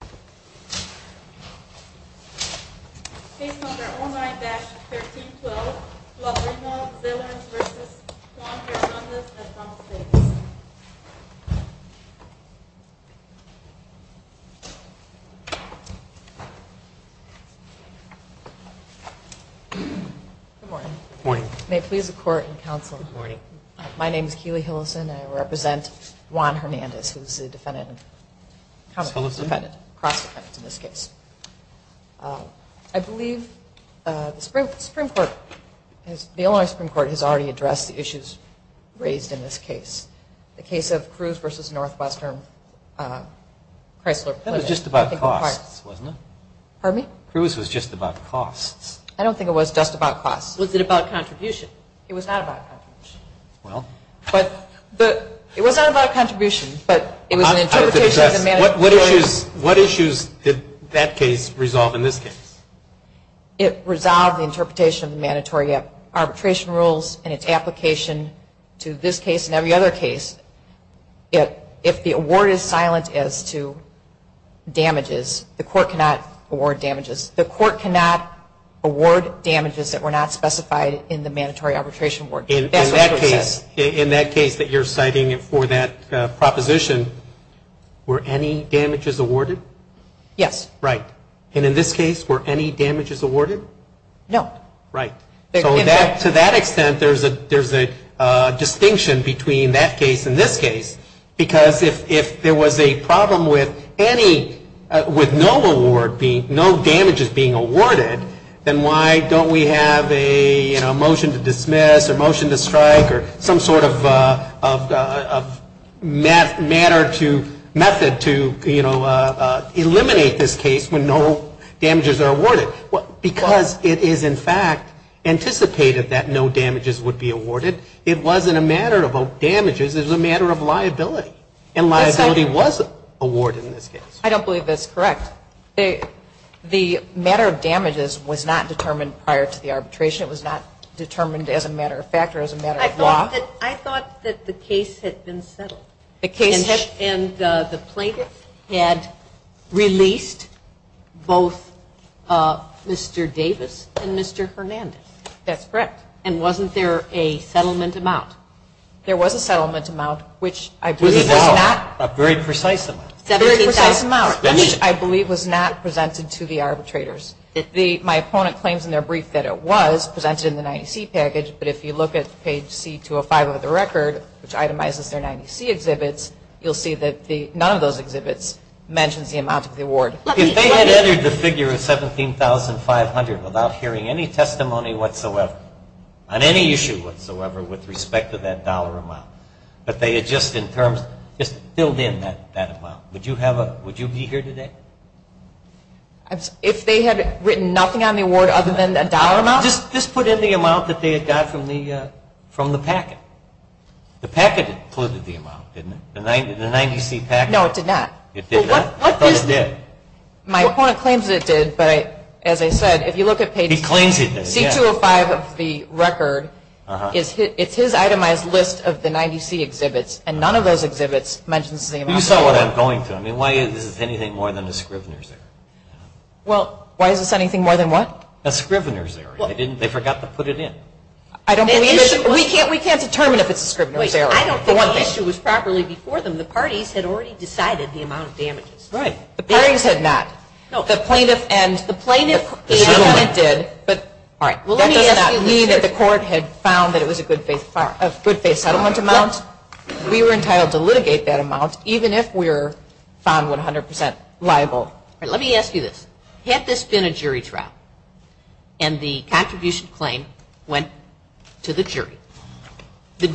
Good morning. May it please the court and counsel, my name is Keely Hillison and I represent the Supreme Court. I believe the Supreme Court, the Illinois Supreme Court has already addressed the issues raised in this case. The case of Cruz v. Northwestern, Chrysler Plymouth. That was just about costs, wasn't it? Pardon me? Cruz was just about costs. I don't think it was just about costs. Was it about contribution? It was not about contribution. Well. It was not about contribution, but it was an interpretation of the mandatory. What issues did that case resolve in this case? It resolved the interpretation of the mandatory arbitration rules and its application to this case and every other case. If the award is silent as to damages, the court cannot award damages. The court cannot award damages that were not specified in the mandatory arbitration award. In that case that you're citing for that proposition, were any damages awarded? Yes. Right. And in this case, were any damages awarded? No. Right. So to that extent, there's a distinction between that case and this case because if there was a problem with no damages being awarded, then why don't we have a motion to dismiss or motion to strike or some sort of method to eliminate this case when no damages are awarded? Because it is in fact anticipated that no damages would be awarded. It wasn't a matter of damages. It was a matter of liability. And liability was awarded in this case. I don't believe that's correct. The matter of damages was not determined prior to the arbitration. It was not determined as a matter of fact or as a matter of law. I thought that the case had been settled. The case? And the plaintiff had released both Mr. Davis and Mr. Hernandez. That's correct. And wasn't there a settlement amount? There was a settlement amount, which I believe was not. A very precise amount. A very precise amount, which I believe was not presented to the arbitrators. My opponent claims in their brief that it was presented in the 90C package, but if you look at page C205 of the record, which itemizes their 90C exhibits, you'll see that none of those exhibits mentions the amount of the award. If they had entered the figure of $17,500 without hearing any testimony whatsoever on any issue whatsoever with respect to that dollar amount, but they had just in terms, just filled in that amount, would you be here today? If they had written nothing on the award other than a dollar amount? Just put in the amount that they had got from the packet. The packet included the amount, didn't it? The 90C packet? No, it did not. It did not? I thought it did. My opponent claims it did, but as I said, if you look at page C205 of the record, it's his itemized list of the 90C exhibits, and none of those exhibits mentions the amount of the award. You saw what I'm going through. I mean, why is this anything more than a scrivener's error? Well, why is this anything more than what? A scrivener's error. They forgot to put it in. We can't determine if it's a scrivener's error. I don't think the issue was properly before them. The parties had already decided the amount of damages. Right. The parties had not. No. The plaintiff and the settlement did, but that does not mean that the court had found that it was a good faith settlement amount. We were entitled to litigate that amount even if we were found 100% liable. Let me ask you this. Had this been a jury trial and the contribution claim went to the jury, they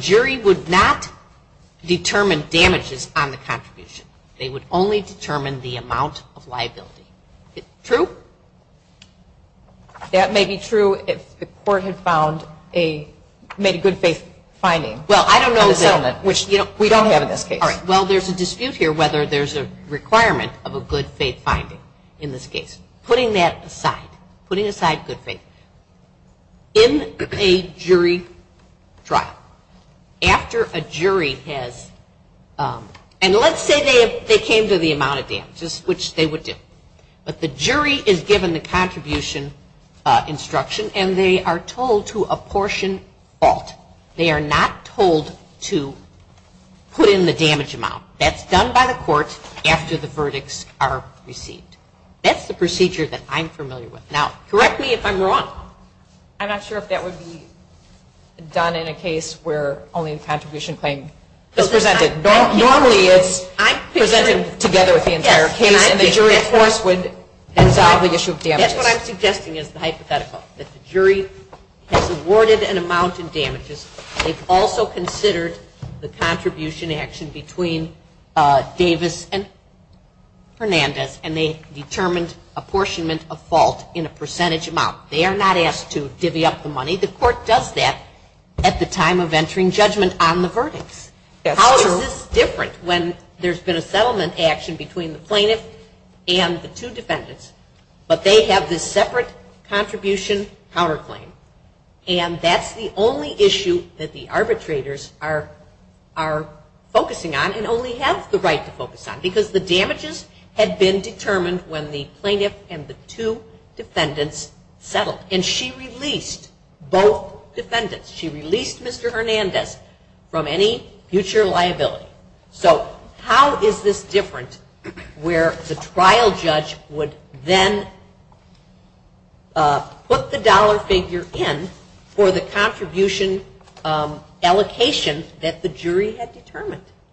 would only determine the amount of liability. True? That may be true if the court had made a good faith finding in the settlement, which we don't have in this case. All right. Well, there's a dispute here whether there's a requirement of a good faith finding in this case. Putting that aside, putting aside good faith. In a jury trial, after a jury has, and let's say they came to the amount of damages, which they would do, but the jury is given the contribution instruction and they are told to apportion fault. They are not told to put in the damage amount. That's done by the court after the verdicts are received. That's the procedure that I'm familiar with. Now, correct me if I'm wrong. I'm not sure if that would be done in a case where only the contribution claim is presented. Normally it's presented together with the entire case and the jury, of course, would resolve the issue of damages. That's what I'm suggesting is the hypothetical, that the jury has awarded an amount in damages. They've also considered the contribution action between Davis and Hernandez, and they determined apportionment of fault in a percentage amount. They are not asked to divvy up the money. The court does that at the time of entering judgment on the verdicts. How is this different when there's been a settlement action between the plaintiff and the two defendants, but they have this separate contribution counterclaim? And that's the only issue that the arbitrators are focusing on and only have the right to focus on, because the damages had been determined when the plaintiff and the two defendants settled, and she released both defendants. She released Mr. Hernandez from any future liability. So how is this different where the trial judge would then put the dollar figure in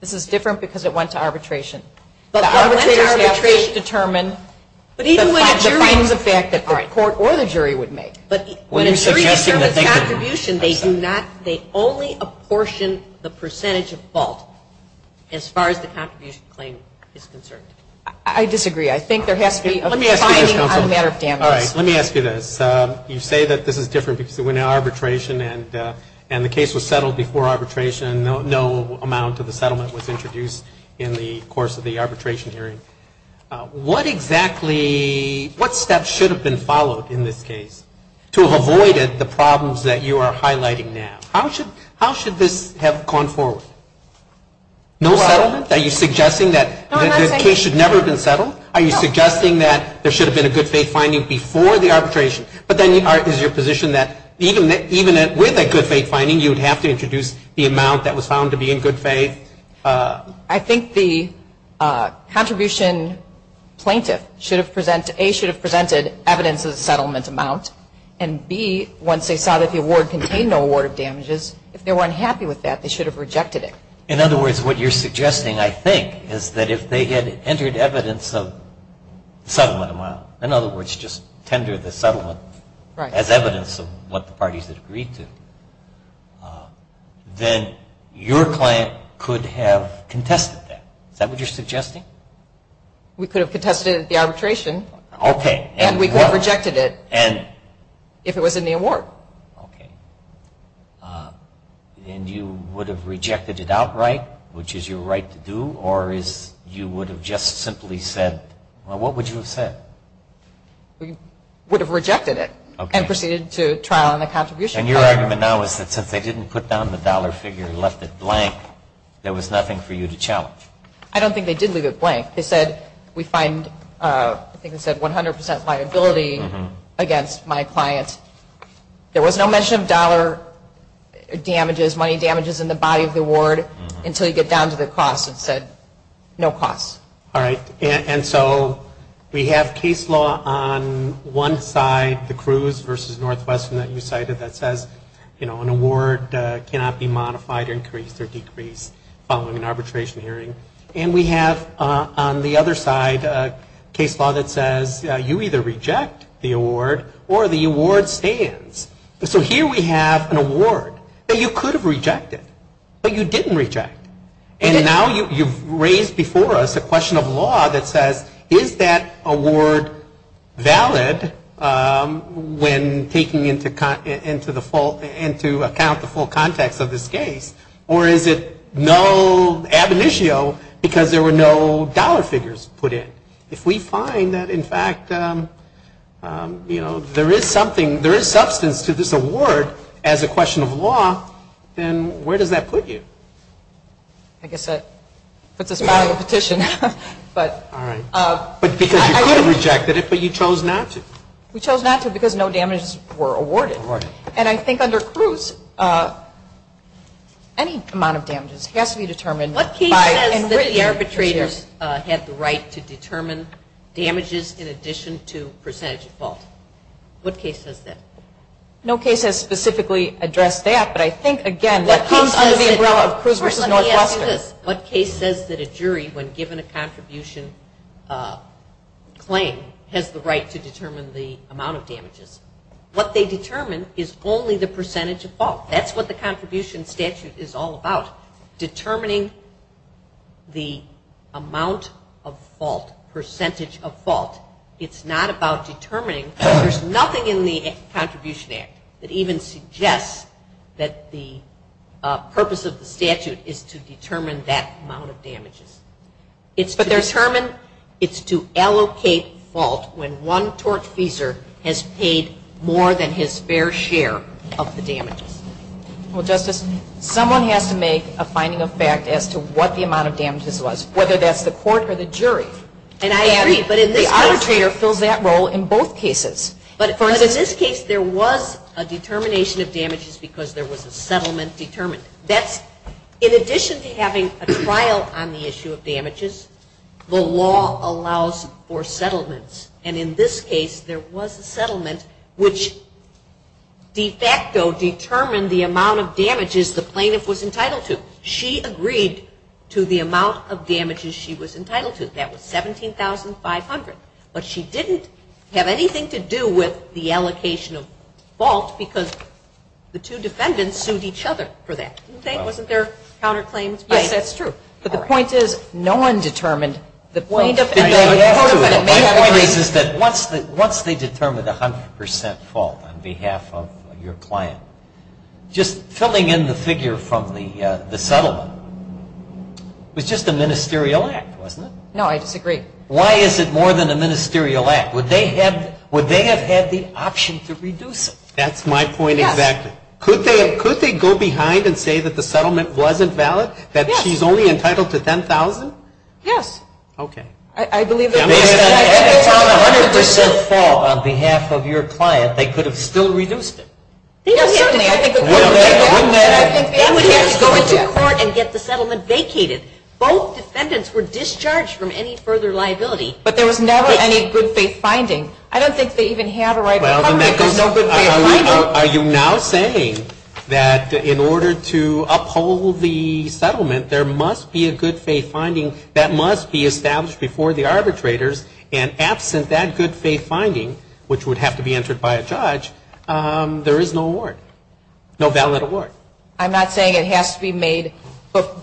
This is different because it went to arbitration. The arbitrators have to determine the fact that the court or the jury would make. But when a jury determines contribution, they only apportion the percentage of fault as far as the contribution claim is concerned. I disagree. I think there has to be a finding on the matter of damages. All right. Let me ask you this. You say that this is different because it went to arbitration and the case was settled before arbitration, and no amount of the settlement was introduced in the course of the arbitration hearing. What exactly, what steps should have been followed in this case to have avoided the problems that you are highlighting now? How should this have gone forward? No settlement? Are you suggesting that the case should never have been settled? Are you suggesting that there should have been a good faith finding before the arbitration? But then is your position that even with a good faith finding, you would have to introduce the amount that was found to be in good faith? I think the contribution plaintiff should have presented, A, should have presented evidence of the settlement amount, and, B, once they saw that the award contained no award of damages, if they were unhappy with that, they should have rejected it. In other words, what you're suggesting, I think, is that if they had entered evidence of the settlement amount, in other words, just tender the settlement as evidence of what the parties had agreed to, then your client could have contested that. Is that what you're suggesting? We could have contested the arbitration. Okay. And we could have rejected it if it was in the award. Okay. And you would have rejected it outright, which is your right to do, or you would have just simply said, well, what would you have said? We would have rejected it and proceeded to trial on the contribution. And your argument now is that since they didn't put down the dollar figure and left it blank, there was nothing for you to challenge. I don't think they did leave it blank. They said, we find, I think they said 100% liability against my client. There was no mention of dollar damages, money damages in the body of the award, until you get down to the cost and said, no cost. All right. And so we have case law on one side, the Cruz versus Northwestern that you cited, that says, you know, an award cannot be modified, increased, or decreased following an arbitration hearing. And we have on the other side case law that says, you either reject the award or the award stands. So here we have an award that you could have rejected, but you didn't reject. And now you've raised before us a question of law that says, is that award valid when taking into account the full context of this case, or is it no ab initio because there were no dollar figures put in? If we find that, in fact, you know, there is something, there is substance to this award as a question of law, then where does that put you? I guess that puts us back on the petition. All right. But because you could have rejected it, but you chose not to. We chose not to because no damages were awarded. And I think under Cruz, any amount of damages has to be determined. What case says that the arbitrators had the right to determine damages in addition to percentage default? What case says that? No case has specifically addressed that, but I think, again, that comes under the umbrella of Cruz versus Northwestern. What case says that a jury, when given a contribution claim, has the right to determine the amount of damages? What they determine is only the percentage of fault. That's what the contribution statute is all about, determining the amount of fault, percentage of fault. It's not about determining. There's nothing in the Contribution Act that even suggests that the purpose of the statute is to determine that amount of damages. It's to determine. It's to allocate fault when one tortfeasor has paid more than his fair share of the damages. Well, Justice, someone has to make a finding of fact as to what the amount of damages was, whether that's the court or the jury. And I agree. The arbitrator fills that role in both cases. But in this case, there was a determination of damages because there was a settlement determined. In addition to having a trial on the issue of damages, the law allows for settlements. And in this case, there was a settlement which de facto determined the amount of damages the plaintiff was entitled to. She agreed to the amount of damages she was entitled to. That was $17,500. But she didn't have anything to do with the allocation of fault because the two defendants sued each other for that, didn't they? Wasn't there counterclaims? Yes, that's true. But the point is, no one determined the plaintiff. The point is that once they determined 100% fault on behalf of your client, just filling in the figure from the settlement was just a ministerial act, wasn't it? No, I disagree. Why is it more than a ministerial act? Would they have had the option to reduce it? That's my point exactly. Yes. Could they go behind and say that the settlement wasn't valid, that she's only entitled to $10,000? Yes. Okay. I believe that based on 100% fault on behalf of your client, they could have still reduced it. Yes, certainly. Wouldn't they have? They would have to go into court and get the settlement vacated. Both defendants were discharged from any further liability. But there was never any good-faith finding. I don't think they even had a right of cover. Are you now saying that in order to uphold the settlement, there must be a good-faith finding that must be established before the arbitrators, and absent that good-faith finding, which would have to be entered by a judge, there is no award, no valid award? I'm not saying it has to be made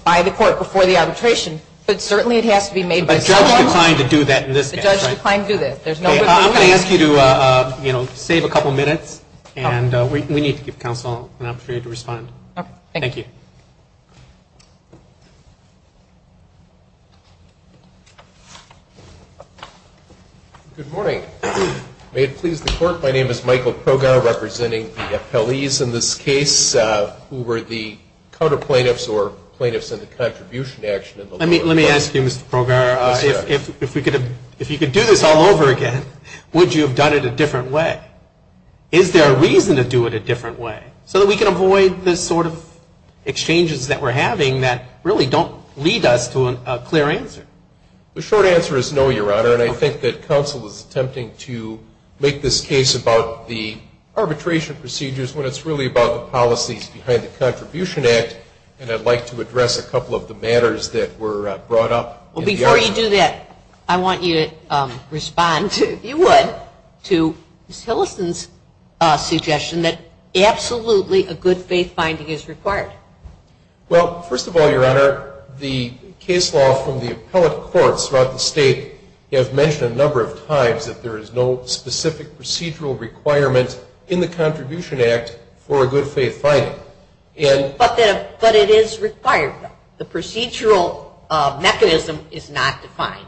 by the court before the arbitration, but certainly it has to be made by someone. A judge declined to do that in this case, right? A judge declined to do that. I'm going to ask you to save a couple minutes, and we need to give counsel an opportunity to respond. Okay. Thank you. Good morning. May it please the Court, my name is Michael Progar, representing the appellees in this case, who were the counterplaintiffs or plaintiffs in the contribution action. Let me ask you, Mr. Progar, if you could do this all over again, would you have done it a different way? Is there a reason to do it a different way so that we can avoid the sort of exchanges that we're having that really don't lead us to a clear answer? The short answer is no, Your Honor, and I think that counsel is attempting to make this case about the arbitration procedures when it's really about the policies behind the Contribution Act, and I'd like to address a couple of the matters that were brought up. Well, before you do that, I want you to respond, if you would, to Ms. Hillison's suggestion that absolutely a good faith finding is required. Well, first of all, Your Honor, the case law from the appellate courts throughout the state have mentioned a number of times that there is no specific procedural requirement in the Contribution Act for a good faith finding. But it is required. The procedural mechanism is not defined.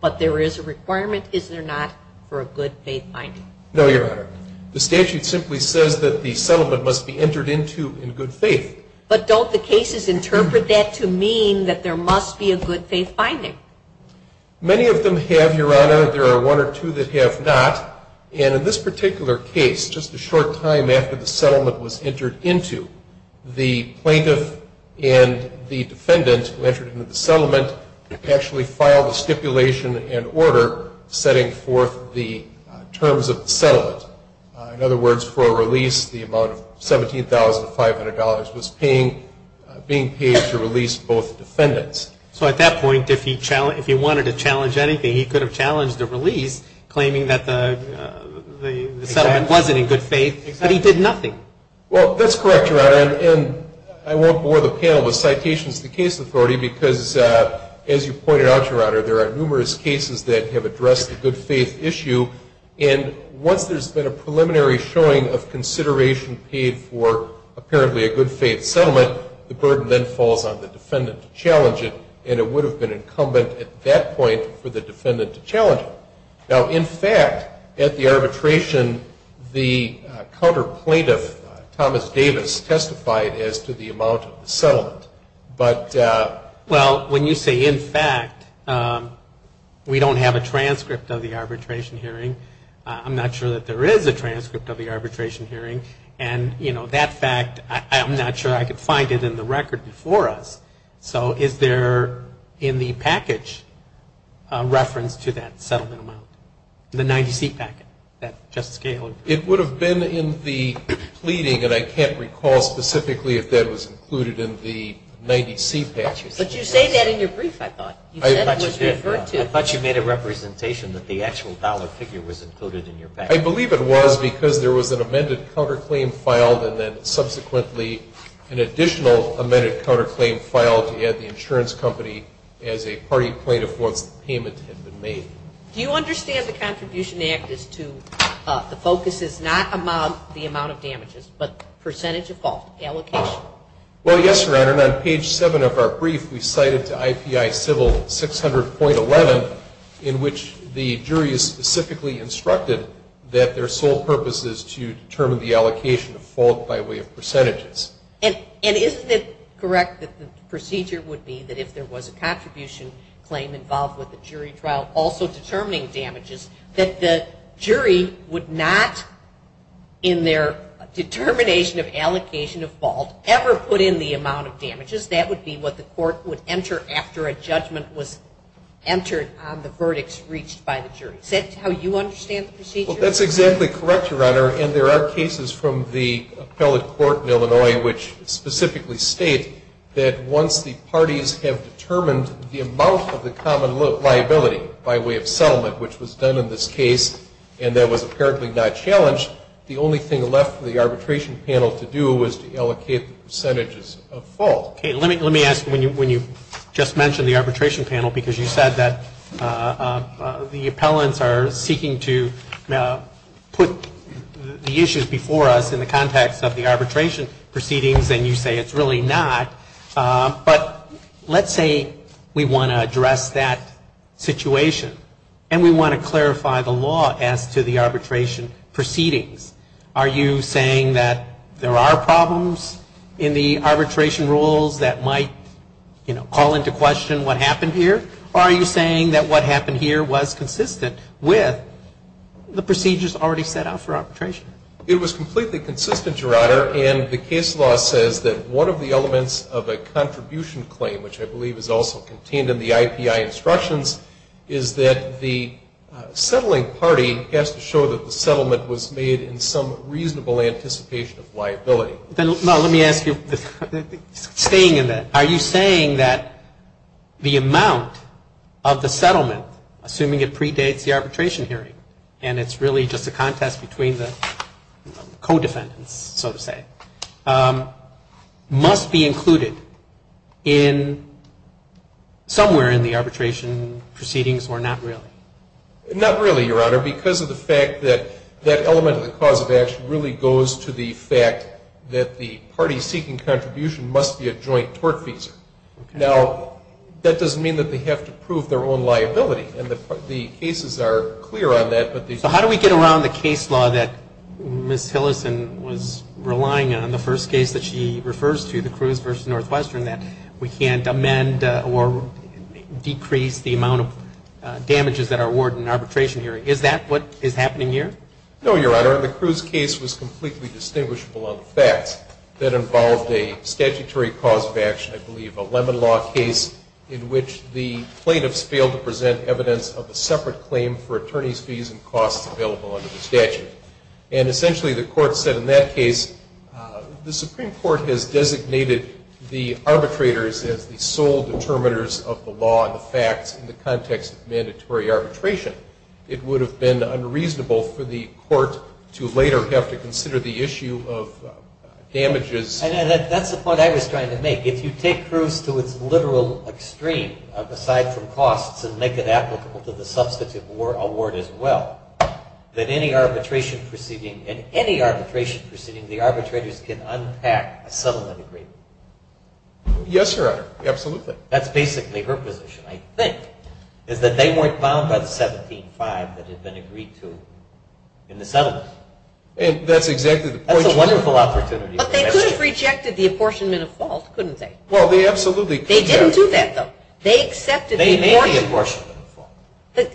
But there is a requirement, is there not, for a good faith finding? No, Your Honor. The statute simply says that the settlement must be entered into in good faith. But don't the cases interpret that to mean that there must be a good faith finding? Many of them have, Your Honor. There are one or two that have not. And in this particular case, just a short time after the settlement was entered into, the plaintiff and the defendant who entered into the settlement actually filed a stipulation and order setting forth the terms of the settlement. In other words, for a release, the amount of $17,500 was being paid to release both defendants. So at that point, if he wanted to challenge anything, he could have challenged the release, claiming that the settlement wasn't in good faith, but he did nothing. Well, that's correct, Your Honor. And I won't bore the panel with citations to the case authority because, as you pointed out, Your Honor, there are numerous cases that have addressed the good faith issue. And once there's been a preliminary showing of consideration paid for apparently a good faith settlement, the burden then falls on the defendant to challenge it, and it would have been incumbent at that point for the defendant to challenge it. Now, in fact, at the arbitration, the counter plaintiff, Thomas Davis, testified as to the amount of the settlement. Well, when you say, in fact, we don't have a transcript of the arbitration hearing, I'm not sure that there is a transcript of the arbitration hearing. And, you know, that fact, I'm not sure I could find it in the record before us. So is there in the package a reference to that settlement amount, the 90-seat package that Justice Gaylord referred to? It would have been in the pleading, and I can't recall specifically if that was included in the 90-seat package. But you say that in your brief, I thought. You said it was referred to. I thought you made a representation that the actual dollar figure was included in your package. I believe it was because there was an amended counterclaim filed and then subsequently an additional amended counterclaim filed to add the insurance company as a party plaintiff once the payment had been made. Do you understand the Contribution Act is to, the focus is not the amount of damages, but percentage of fault allocation? Well, yes, Your Honor, and on page 7 of our brief, we cited to IPI civil 600.11, in which the jury is specifically instructed that their sole purpose is to determine the allocation of fault by way of percentages. And isn't it correct that the procedure would be that if there was a contribution claim involved with the jury trial, also determining damages, that the jury would not, in their determination of allocation of fault, ever put in the amount of damages? That would be what the court would enter after a judgment was entered on the verdicts reached by the jury. Is that how you understand the procedure? Well, that's exactly correct, Your Honor, and there are cases from the appellate court in Illinois which specifically state that once the parties have determined the amount of the common liability by way of settlement, which was done in this case and that was apparently not challenged, the only thing left for the arbitration panel to do was to allocate the percentages of fault. Okay, let me ask, when you just mentioned the arbitration panel, because you said that the appellants are seeking to put the But let's say we want to address that situation and we want to clarify the law as to the arbitration proceedings. Are you saying that there are problems in the arbitration rules that might, you know, call into question what happened here? Or are you saying that what happened here was consistent with the procedures already set out for arbitration? It was completely consistent, Your Honor, and the case law says that one of the elements of a contribution claim, which I believe is also contained in the IPI instructions, is that the settling party has to show that the settlement was made in some reasonable anticipation of liability. Now, let me ask you, staying in that, are you saying that the amount of the settlement, assuming it predates the arbitration hearing and it's really just a contest between the co-defendants, so to say, must be included somewhere in the arbitration proceedings or not really? Not really, Your Honor, because of the fact that that element of the cause of action really goes to the fact that the party seeking contribution must be a joint tortfeasor. Now, that doesn't mean that they have to prove their own liability, and the cases are clear on that. So how do we get around the case law that Ms. Hillison was relying on, the first case that she refers to, the Cruz v. Northwestern, that we can't amend or decrease the amount of damages that are awarded in an arbitration hearing? Is that what is happening here? No, Your Honor. The Cruz case was completely distinguishable on the facts. It involved a statutory cause of action, I believe a Lemon Law case, in which the plaintiffs failed to present evidence of a separate claim for attorney's fees and costs available under the statute. And essentially the court said in that case, the Supreme Court has designated the arbitrators as the sole determiners of the law and the facts in the context of mandatory arbitration. It would have been unreasonable for the court to later have to consider the issue of damages. And that's the point I was trying to make. If you take Cruz to its literal extreme, aside from costs, and make it applicable to the substitute award as well, then in any arbitration proceeding the arbitrators can unpack a settlement agreement. Yes, Your Honor. Absolutely. That's basically her position, I think, is that they weren't bound by the 17-5 that had been agreed to in the settlement. That's exactly the point. That's a wonderful opportunity. But they could have rejected the apportionment of fault, couldn't they? Well, they absolutely could have. They didn't do that, though. They accepted the award. They made the apportionment of fault.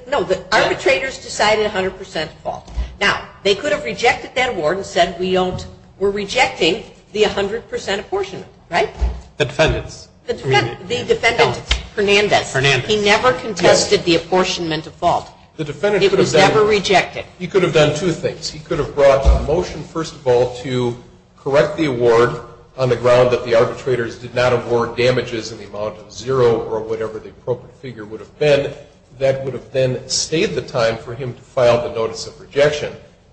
No, the arbitrators decided 100% fault. Now, they could have rejected that award and said we're rejecting the 100% apportionment, right? The defendants. The defendants. Hernandez. Hernandez. He never contested the apportionment of fault. It was never rejected. He could have done two things. He could have brought a motion, first of all, to correct the award on the ground that the arbitrators did not award damages in the amount of zero or whatever the appropriate figure would have been. That would have then stayed the time for him to file the notice of rejection.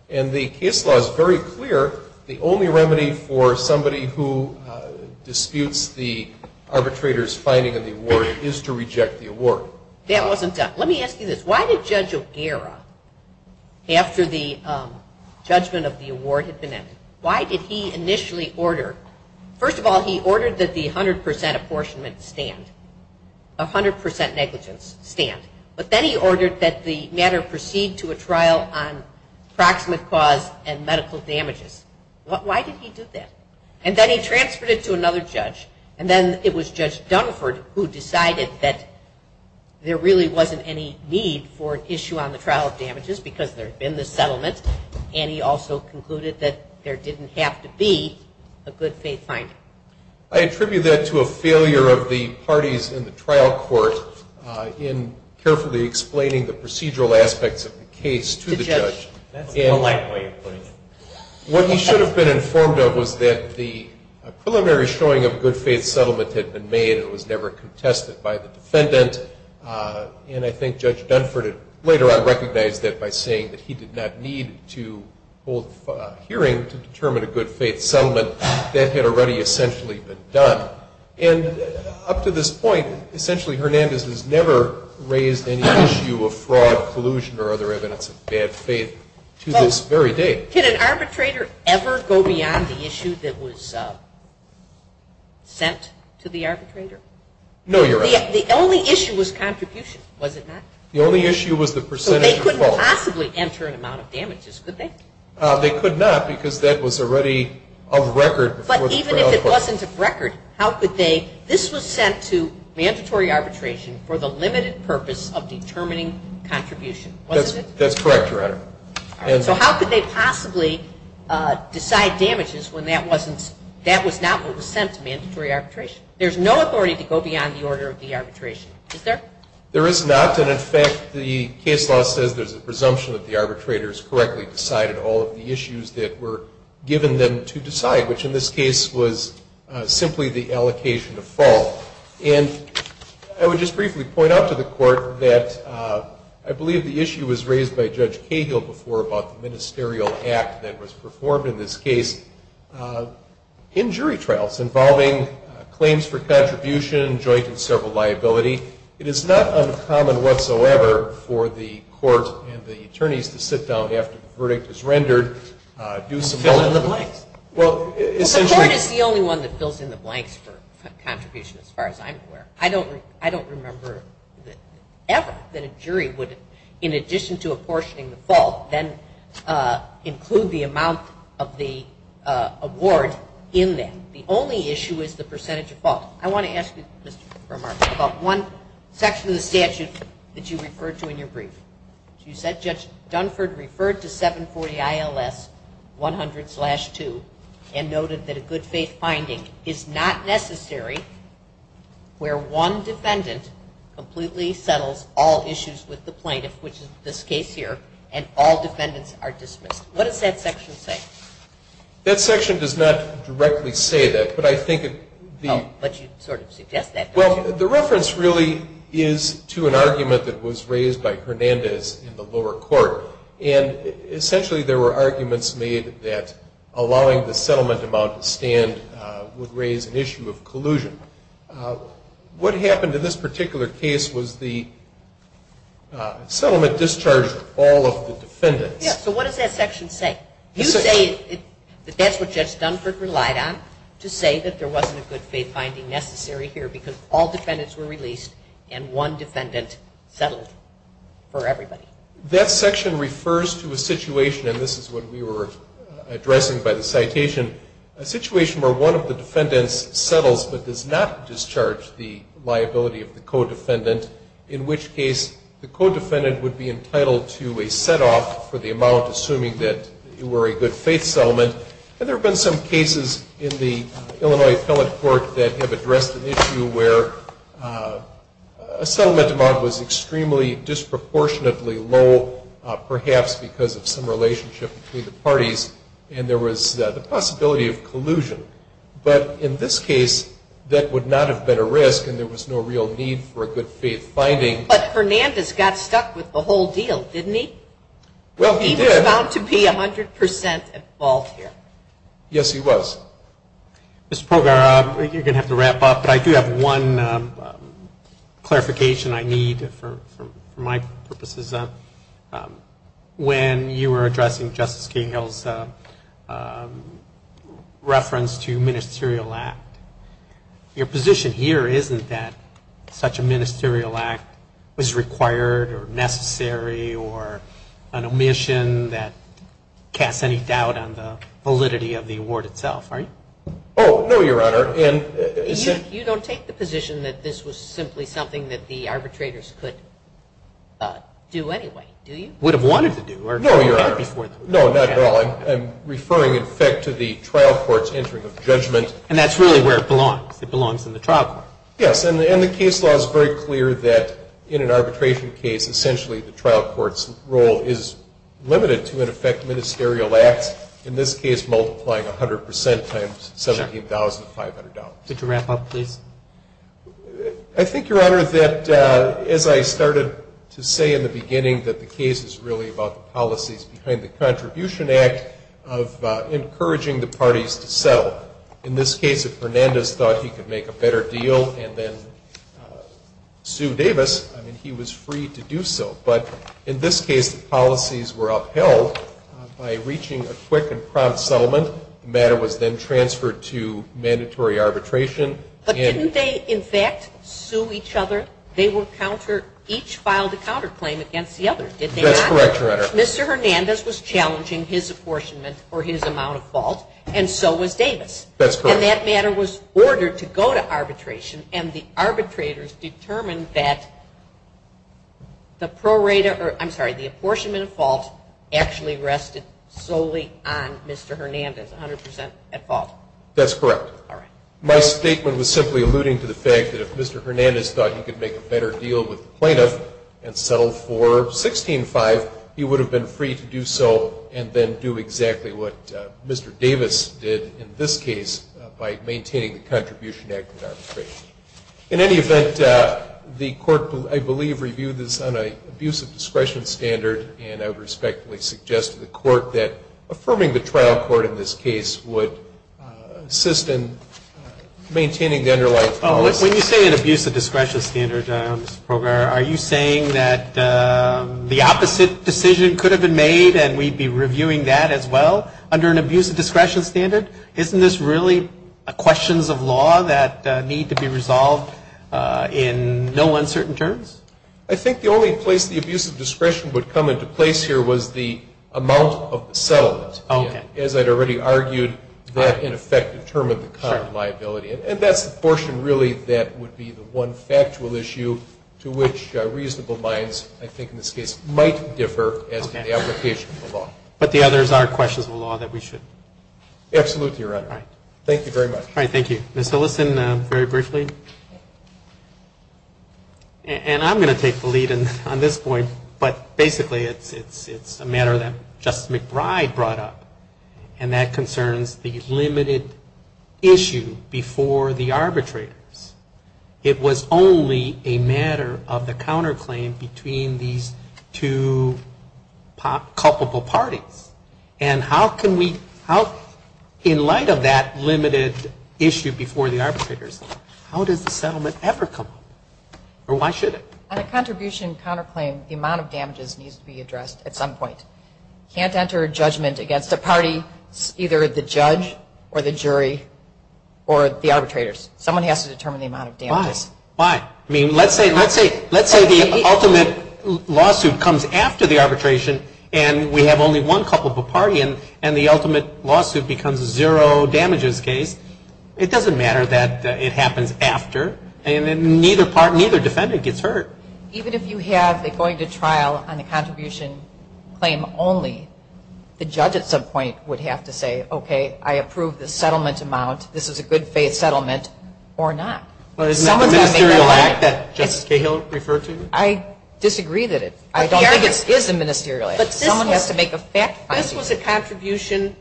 And the case law is very clear. The only remedy for somebody who disputes the arbitrator's finding of the award is to reject the award. That wasn't done. Let me ask you this. Why did Judge O'Gara, after the judgment of the award had been ended, why did he initially order? First of all, he ordered that the 100% apportionment stand, 100% negligence stand. But then he ordered that the matter proceed to a trial on proximate cause and medical damages. Why did he do that? And then he transferred it to another judge. And then it was Judge Dunford who decided that there really wasn't any need for an issue on the trial of damages because there had been the settlement, and he also concluded that there didn't have to be a good faith finding. I attribute that to a failure of the parties in the trial court in carefully explaining the procedural aspects of the case to the judge. What he should have been informed of was that the preliminary showing of a good faith settlement had been made and was never contested by the defendant. And I think Judge Dunford later on recognized that by saying that he did not need to hold a hearing to determine a good faith settlement. That had already essentially been done. And up to this point, essentially Hernandez has never raised any issue of fraud, collusion, or other evidence of bad faith to this very day. Can an arbitrator ever go beyond the issue that was sent to the arbitrator? No, Your Honor. The only issue was contribution, was it not? The only issue was the percentage of fault. So they couldn't possibly enter an amount of damages, could they? They could not because that was already of record. But even if it wasn't of record, how could they? This was sent to mandatory arbitration for the limited purpose of determining contribution, wasn't it? That's correct, Your Honor. So how could they possibly decide damages when that was not what was sent to mandatory arbitration? There's no authority to go beyond the order of the arbitration, is there? There is not. And, in fact, the case law says there's a presumption that the arbitrators correctly decided all of the issues that were given them to decide, which in this case was simply the allocation of fault. And I would just briefly point out to the Court that I believe the issue was raised by Judge Cahill before about the ministerial act that was performed in this case in jury trials involving claims for contribution, joint and several liability. It is not uncommon whatsoever for the Court and the attorneys to sit down after the verdict is rendered, do some ______. Fill in the blanks. Well, essentially ______. The Court is the only one that fills in the blanks for contribution as far as I'm aware. I don't remember ever that a jury would, in addition to apportioning the fault, then include the amount of the award in that. The only issue is the percentage of fault. I want to ask you, Mr. Burmark, about one section of the statute that you referred to in your brief. You said Judge Dunford referred to 740 ILS 100-2 and noted that a good faith finding is not necessary where one defendant completely settles all issues with the plaintiff, which is this case here, and all defendants are dismissed. What does that section say? That section does not directly say that, but I think it ______. No, but you sort of suggest that, don't you? Well, the reference really is to an argument that was raised by Hernandez in the lower court, and essentially there were arguments made that allowing the settlement amount to stand would raise an issue of collusion. What happened in this particular case was the settlement discharged all of the defendants. Yes, so what does that section say? You say that that's what Judge Dunford relied on to say that there wasn't a good faith finding necessary here because all defendants were released and one defendant settled for everybody. That section refers to a situation, and this is what we were addressing by the citation, a situation where one of the defendants settles but does not discharge the liability of the co-defendant, in which case the co-defendant would be entitled to a set-off for the amount, assuming that it were a good faith settlement. And there have been some cases in the Illinois Appellate Court that have addressed an issue where a settlement amount was extremely disproportionately low, perhaps because of some relationship between the parties, and there was the possibility of collusion. But in this case, that would not have been a risk and there was no real need for a good faith finding. But Fernandez got stuck with the whole deal, didn't he? Well, he did. He was bound to be 100% involved here. Yes, he was. Mr. Pogar, I think you're going to have to wrap up, but I do have one clarification I need for my purposes. When you were addressing Justice Cahill's reference to ministerial act, your position here isn't that such a ministerial act was required or necessary or an omission that casts any doubt on the validity of the award itself, right? Oh, no, Your Honor. You don't take the position that this was simply something that the arbitrators could do anyway, do you? Would have wanted to do or had before them. No, Your Honor. No, not at all. I'm referring, in effect, to the trial court's entering of judgment. And that's really where it belongs. It belongs in the trial court. Yes, and the case law is very clear that in an arbitration case, essentially the trial court's role is limited to, in effect, ministerial acts, in this case multiplying 100 percent times $17,500. Could you wrap up, please? I think, Your Honor, that as I started to say in the beginning that the case is really about the policies behind the Contribution Act of encouraging the parties to settle. In this case, if Hernandez thought he could make a better deal and then Sue Davis, I mean, he was free to do so. But in this case, the policies were upheld by reaching a quick and prompt settlement. The matter was then transferred to mandatory arbitration. But didn't they, in fact, sue each other? They were each filed a counterclaim against the other, did they not? That's correct, Your Honor. Mr. Hernandez was challenging his apportionment or his amount of fault, and so was Davis. That's correct. And that matter was ordered to go to arbitration, and the arbitrators determined that the apportionment of fault actually rested solely on Mr. Hernandez, 100 percent at fault. That's correct. My statement was simply alluding to the fact that if Mr. Hernandez thought he could make a better deal with the plaintiff and settle for $16,500, he would have been free to do so and then do exactly what Mr. Davis did in this case by maintaining the Contribution Act and arbitration. In any event, the Court, I believe, reviewed this on an abuse of discretion standard, and I would respectfully suggest to the Court that affirming the trial court in this case would assist in maintaining the underlying policy. When you say an abuse of discretion standard, Mr. Pogar, are you saying that the opposite decision could have been made and we'd be reviewing that as well under an abuse of discretion standard? Isn't this really questions of law that need to be resolved in no uncertain terms? I think the only place the abuse of discretion would come into place here was the amount of the settlement, as I'd already argued that in effect determined the current liability. And that's the portion really that would be the one factual issue to which reasonable minds, I think in this case, might differ as to the application of the law. But the others are questions of law that we should? Absolutely, Your Honor. All right. Thank you very much. All right. Thank you. Ms. Hillison, very briefly. And I'm going to take the lead on this point, but basically it's a matter that Justice McBride brought up, and that concerns the limited issue before the arbitrators. It was only a matter of the counterclaim between these two culpable parties. And how can we, in light of that limited issue before the arbitrators, how does the settlement ever come up? Or why should it? On a contribution counterclaim, the amount of damages needs to be addressed at some point. You can't enter a judgment against a party, either the judge or the jury or the arbitrators. Someone has to determine the amount of damages. Why? I mean, let's say the ultimate lawsuit comes after the arbitration, and we have only one culpable party, and the ultimate lawsuit becomes a zero damages case. It doesn't matter that it happens after, and neither defendant gets hurt. Even if you have a going to trial on the contribution claim only, the judge at some point would have to say, okay, I approve the settlement amount, this is a good faith settlement, or not. But isn't that a ministerial act that Justice Cahill referred to? I disagree that it is. I don't think it is a ministerial act. Someone has to make a fact finding. This was a contribution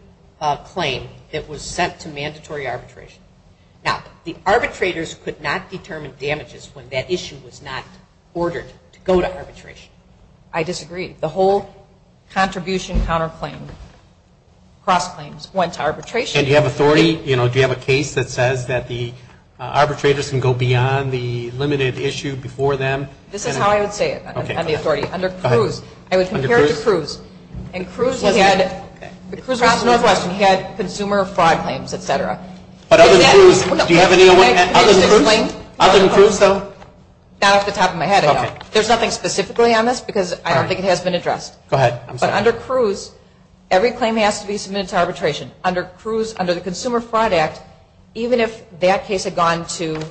claim that was sent to mandatory arbitration. Now, the arbitrators could not determine damages when that issue was not ordered to go to arbitration. I disagree. The whole contribution counterclaim cross-claims went to arbitration. And do you have authority, you know, do you have a case that says that the arbitrators can go beyond the limited issue before them? This is how I would say it on the authority. Under Cruz, I would compare it to Cruz. And Cruz was Northwestern. He had consumer fraud claims, et cetera. But other than Cruz, do you have any other? Other than Cruz, though? Not off the top of my head, no. There's nothing specifically on this because I don't think it has been addressed. Go ahead. But under Cruz, every claim has to be submitted to arbitration. Under Cruz, under the Consumer Fraud Act, even if that case had gone to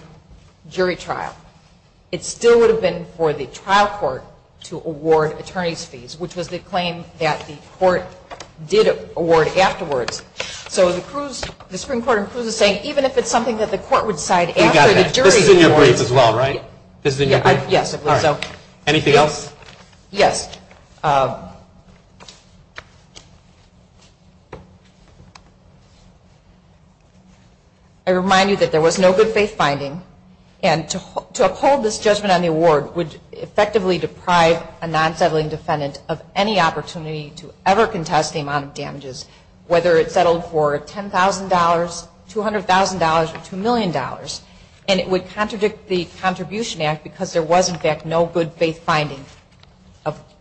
jury trial, it still would have been for the trial court to award attorney's fees, which was the claim that the court did award afterwards. So the Supreme Court in Cruz is saying even if it's something that the court would decide after the jury awards. This is in your brief as well, right? Yes, it was. Anything else? Yes. I remind you that there was no good faith finding, and to uphold this judgment on the award would effectively deprive a non-settling defendant of any opportunity to ever contest the amount of damages, whether it settled for $10,000, $200,000, or $2 million. And it would contradict the Contribution Act because there was, in fact, no good faith finding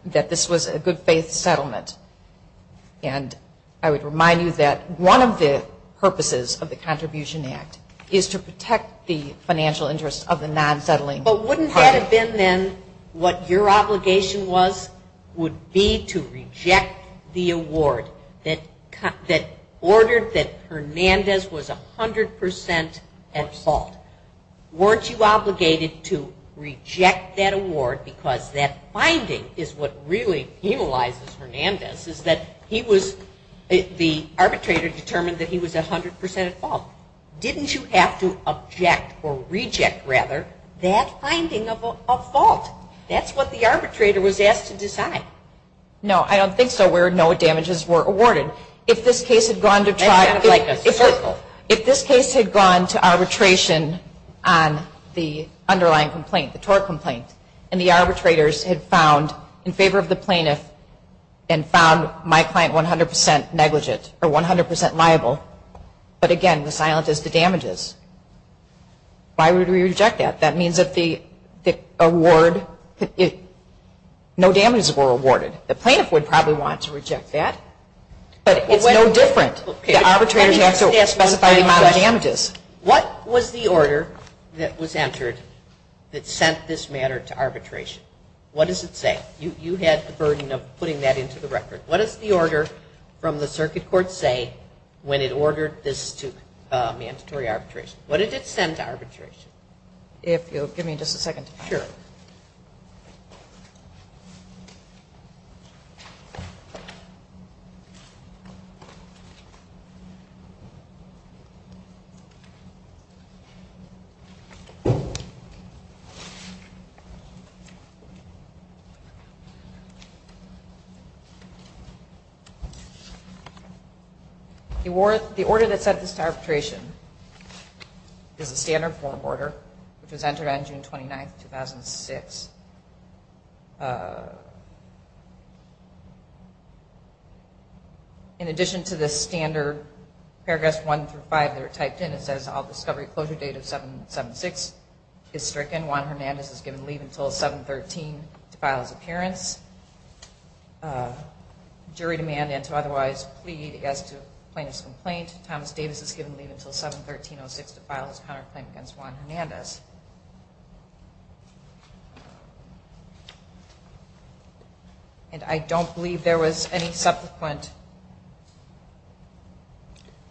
that this was a good faith settlement. And I would remind you that one of the purposes of the Contribution Act is to protect the financial interests of the non-settling. But wouldn't that have been then what your obligation was would be to reject the award that ordered that Hernandez was 100% at fault? Weren't you obligated to reject that award because that finding is what really penalizes Hernandez, is that he was, the arbitrator determined that he was 100% at fault. Didn't you have to object or reject, rather, that finding of fault? That's what the arbitrator was asked to decide. No, I don't think so, where no damages were awarded. If this case had gone to arbitration on the underlying complaint, the tort complaint, and the arbitrators had found in favor of the plaintiff and found my client 100% negligent or 100% liable, but again, the silent is the damages. Why would we reject that? That means that the award, no damages were awarded. The plaintiff would probably want to reject that, but it's no different. The arbitrator has to specify the amount of damages. What was the order that was entered that sent this matter to arbitration? What does it say? You had the burden of putting that into the record. What does the order from the circuit court say when it ordered this to mandatory arbitration? What did it send to arbitration? If you'll give me just a second. The order that sent this to arbitration is a standard form order, which was entered on June 29, 2006. In addition to the standard, Paragraphs 1 through 5 that are typed in, it says all discovery closure date of 776 is stricken. Juan Hernandez is given leave until 7-13 to file his appearance. Jury demand and to otherwise plead as to plaintiff's complaint. Thomas Davis is given leave until 7-13-06 to file his counterclaim against Juan Hernandez. And I don't believe there was any subsequent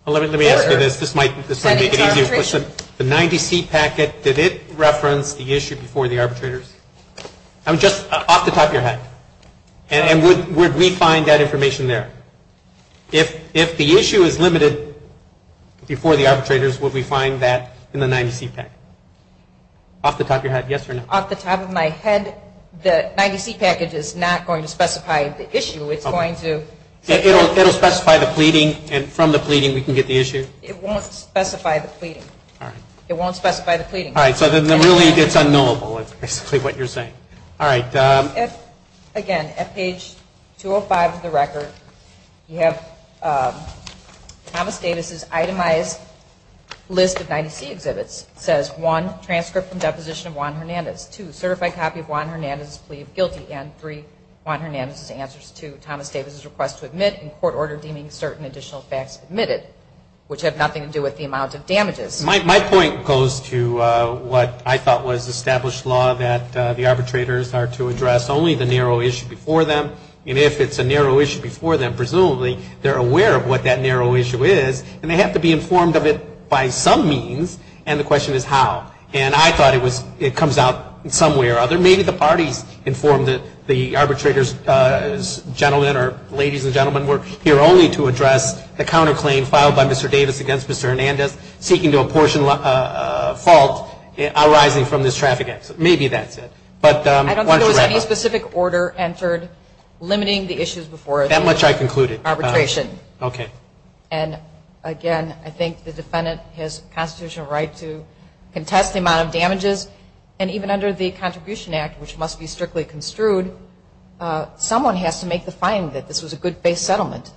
order. Let me ask you this. This might make it easier. The 90-C packet, did it reference the issue before the arbitrators? Just off the top of your head. And would we find that information there? If the issue is limited before the arbitrators, would we find that in the 90-C packet? Off the top of your head, yes or no? Off the top of my head, the 90-C package is not going to specify the issue. It's going to... It will specify the pleading, and from the pleading we can get the issue? It won't specify the pleading. All right. It won't specify the pleading. All right. So then really it's unknowable is basically what you're saying. All right. Again, at page 205 of the record, you have Thomas Davis' itemized list of 90-C exhibits. It says, one, transcript and deposition of Juan Hernandez. Two, certified copy of Juan Hernandez' plea of guilty. And three, Juan Hernandez' answers to Thomas Davis' request to admit and court order deeming certain additional facts admitted, which have nothing to do with the amount of damages. My point goes to what I thought was established law, that the arbitrators are to address only the narrow issue before them. And if it's a narrow issue before them, presumably they're aware of what that narrow issue is, and they have to be informed of it by some means, and the question is how. And I thought it comes out some way or other. But maybe the parties informed the arbitrators, gentlemen or ladies and gentlemen, were here only to address the counterclaim filed by Mr. Davis against Mr. Hernandez, seeking to apportion a fault arising from this traffic accident. Maybe that's it. I don't think there was any specific order entered limiting the issues before it. That much I concluded. Arbitration. Okay. And even under the Contribution Act, which must be strictly construed, someone has to make the finding that this was a good faith settlement,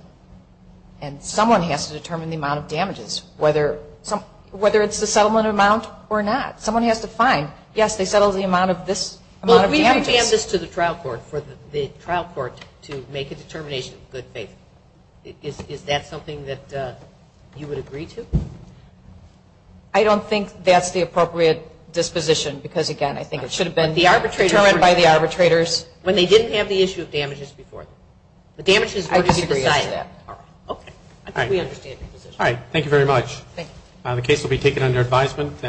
and someone has to determine the amount of damages, whether it's the settlement amount or not. Someone has to find, yes, they settled the amount of this amount of damages. Well, we have to hand this to the trial court for the trial court to make a determination of good faith. Is that something that you would agree to? I don't think that's the appropriate disposition because, again, I think it should have been determined by the arbitrators. When they didn't have the issue of damages before. The damages were to be decided. I disagree with that. All right. Okay. I think we understand your position. All right. Thank you very much. Thank you. The case will be taken under advisement.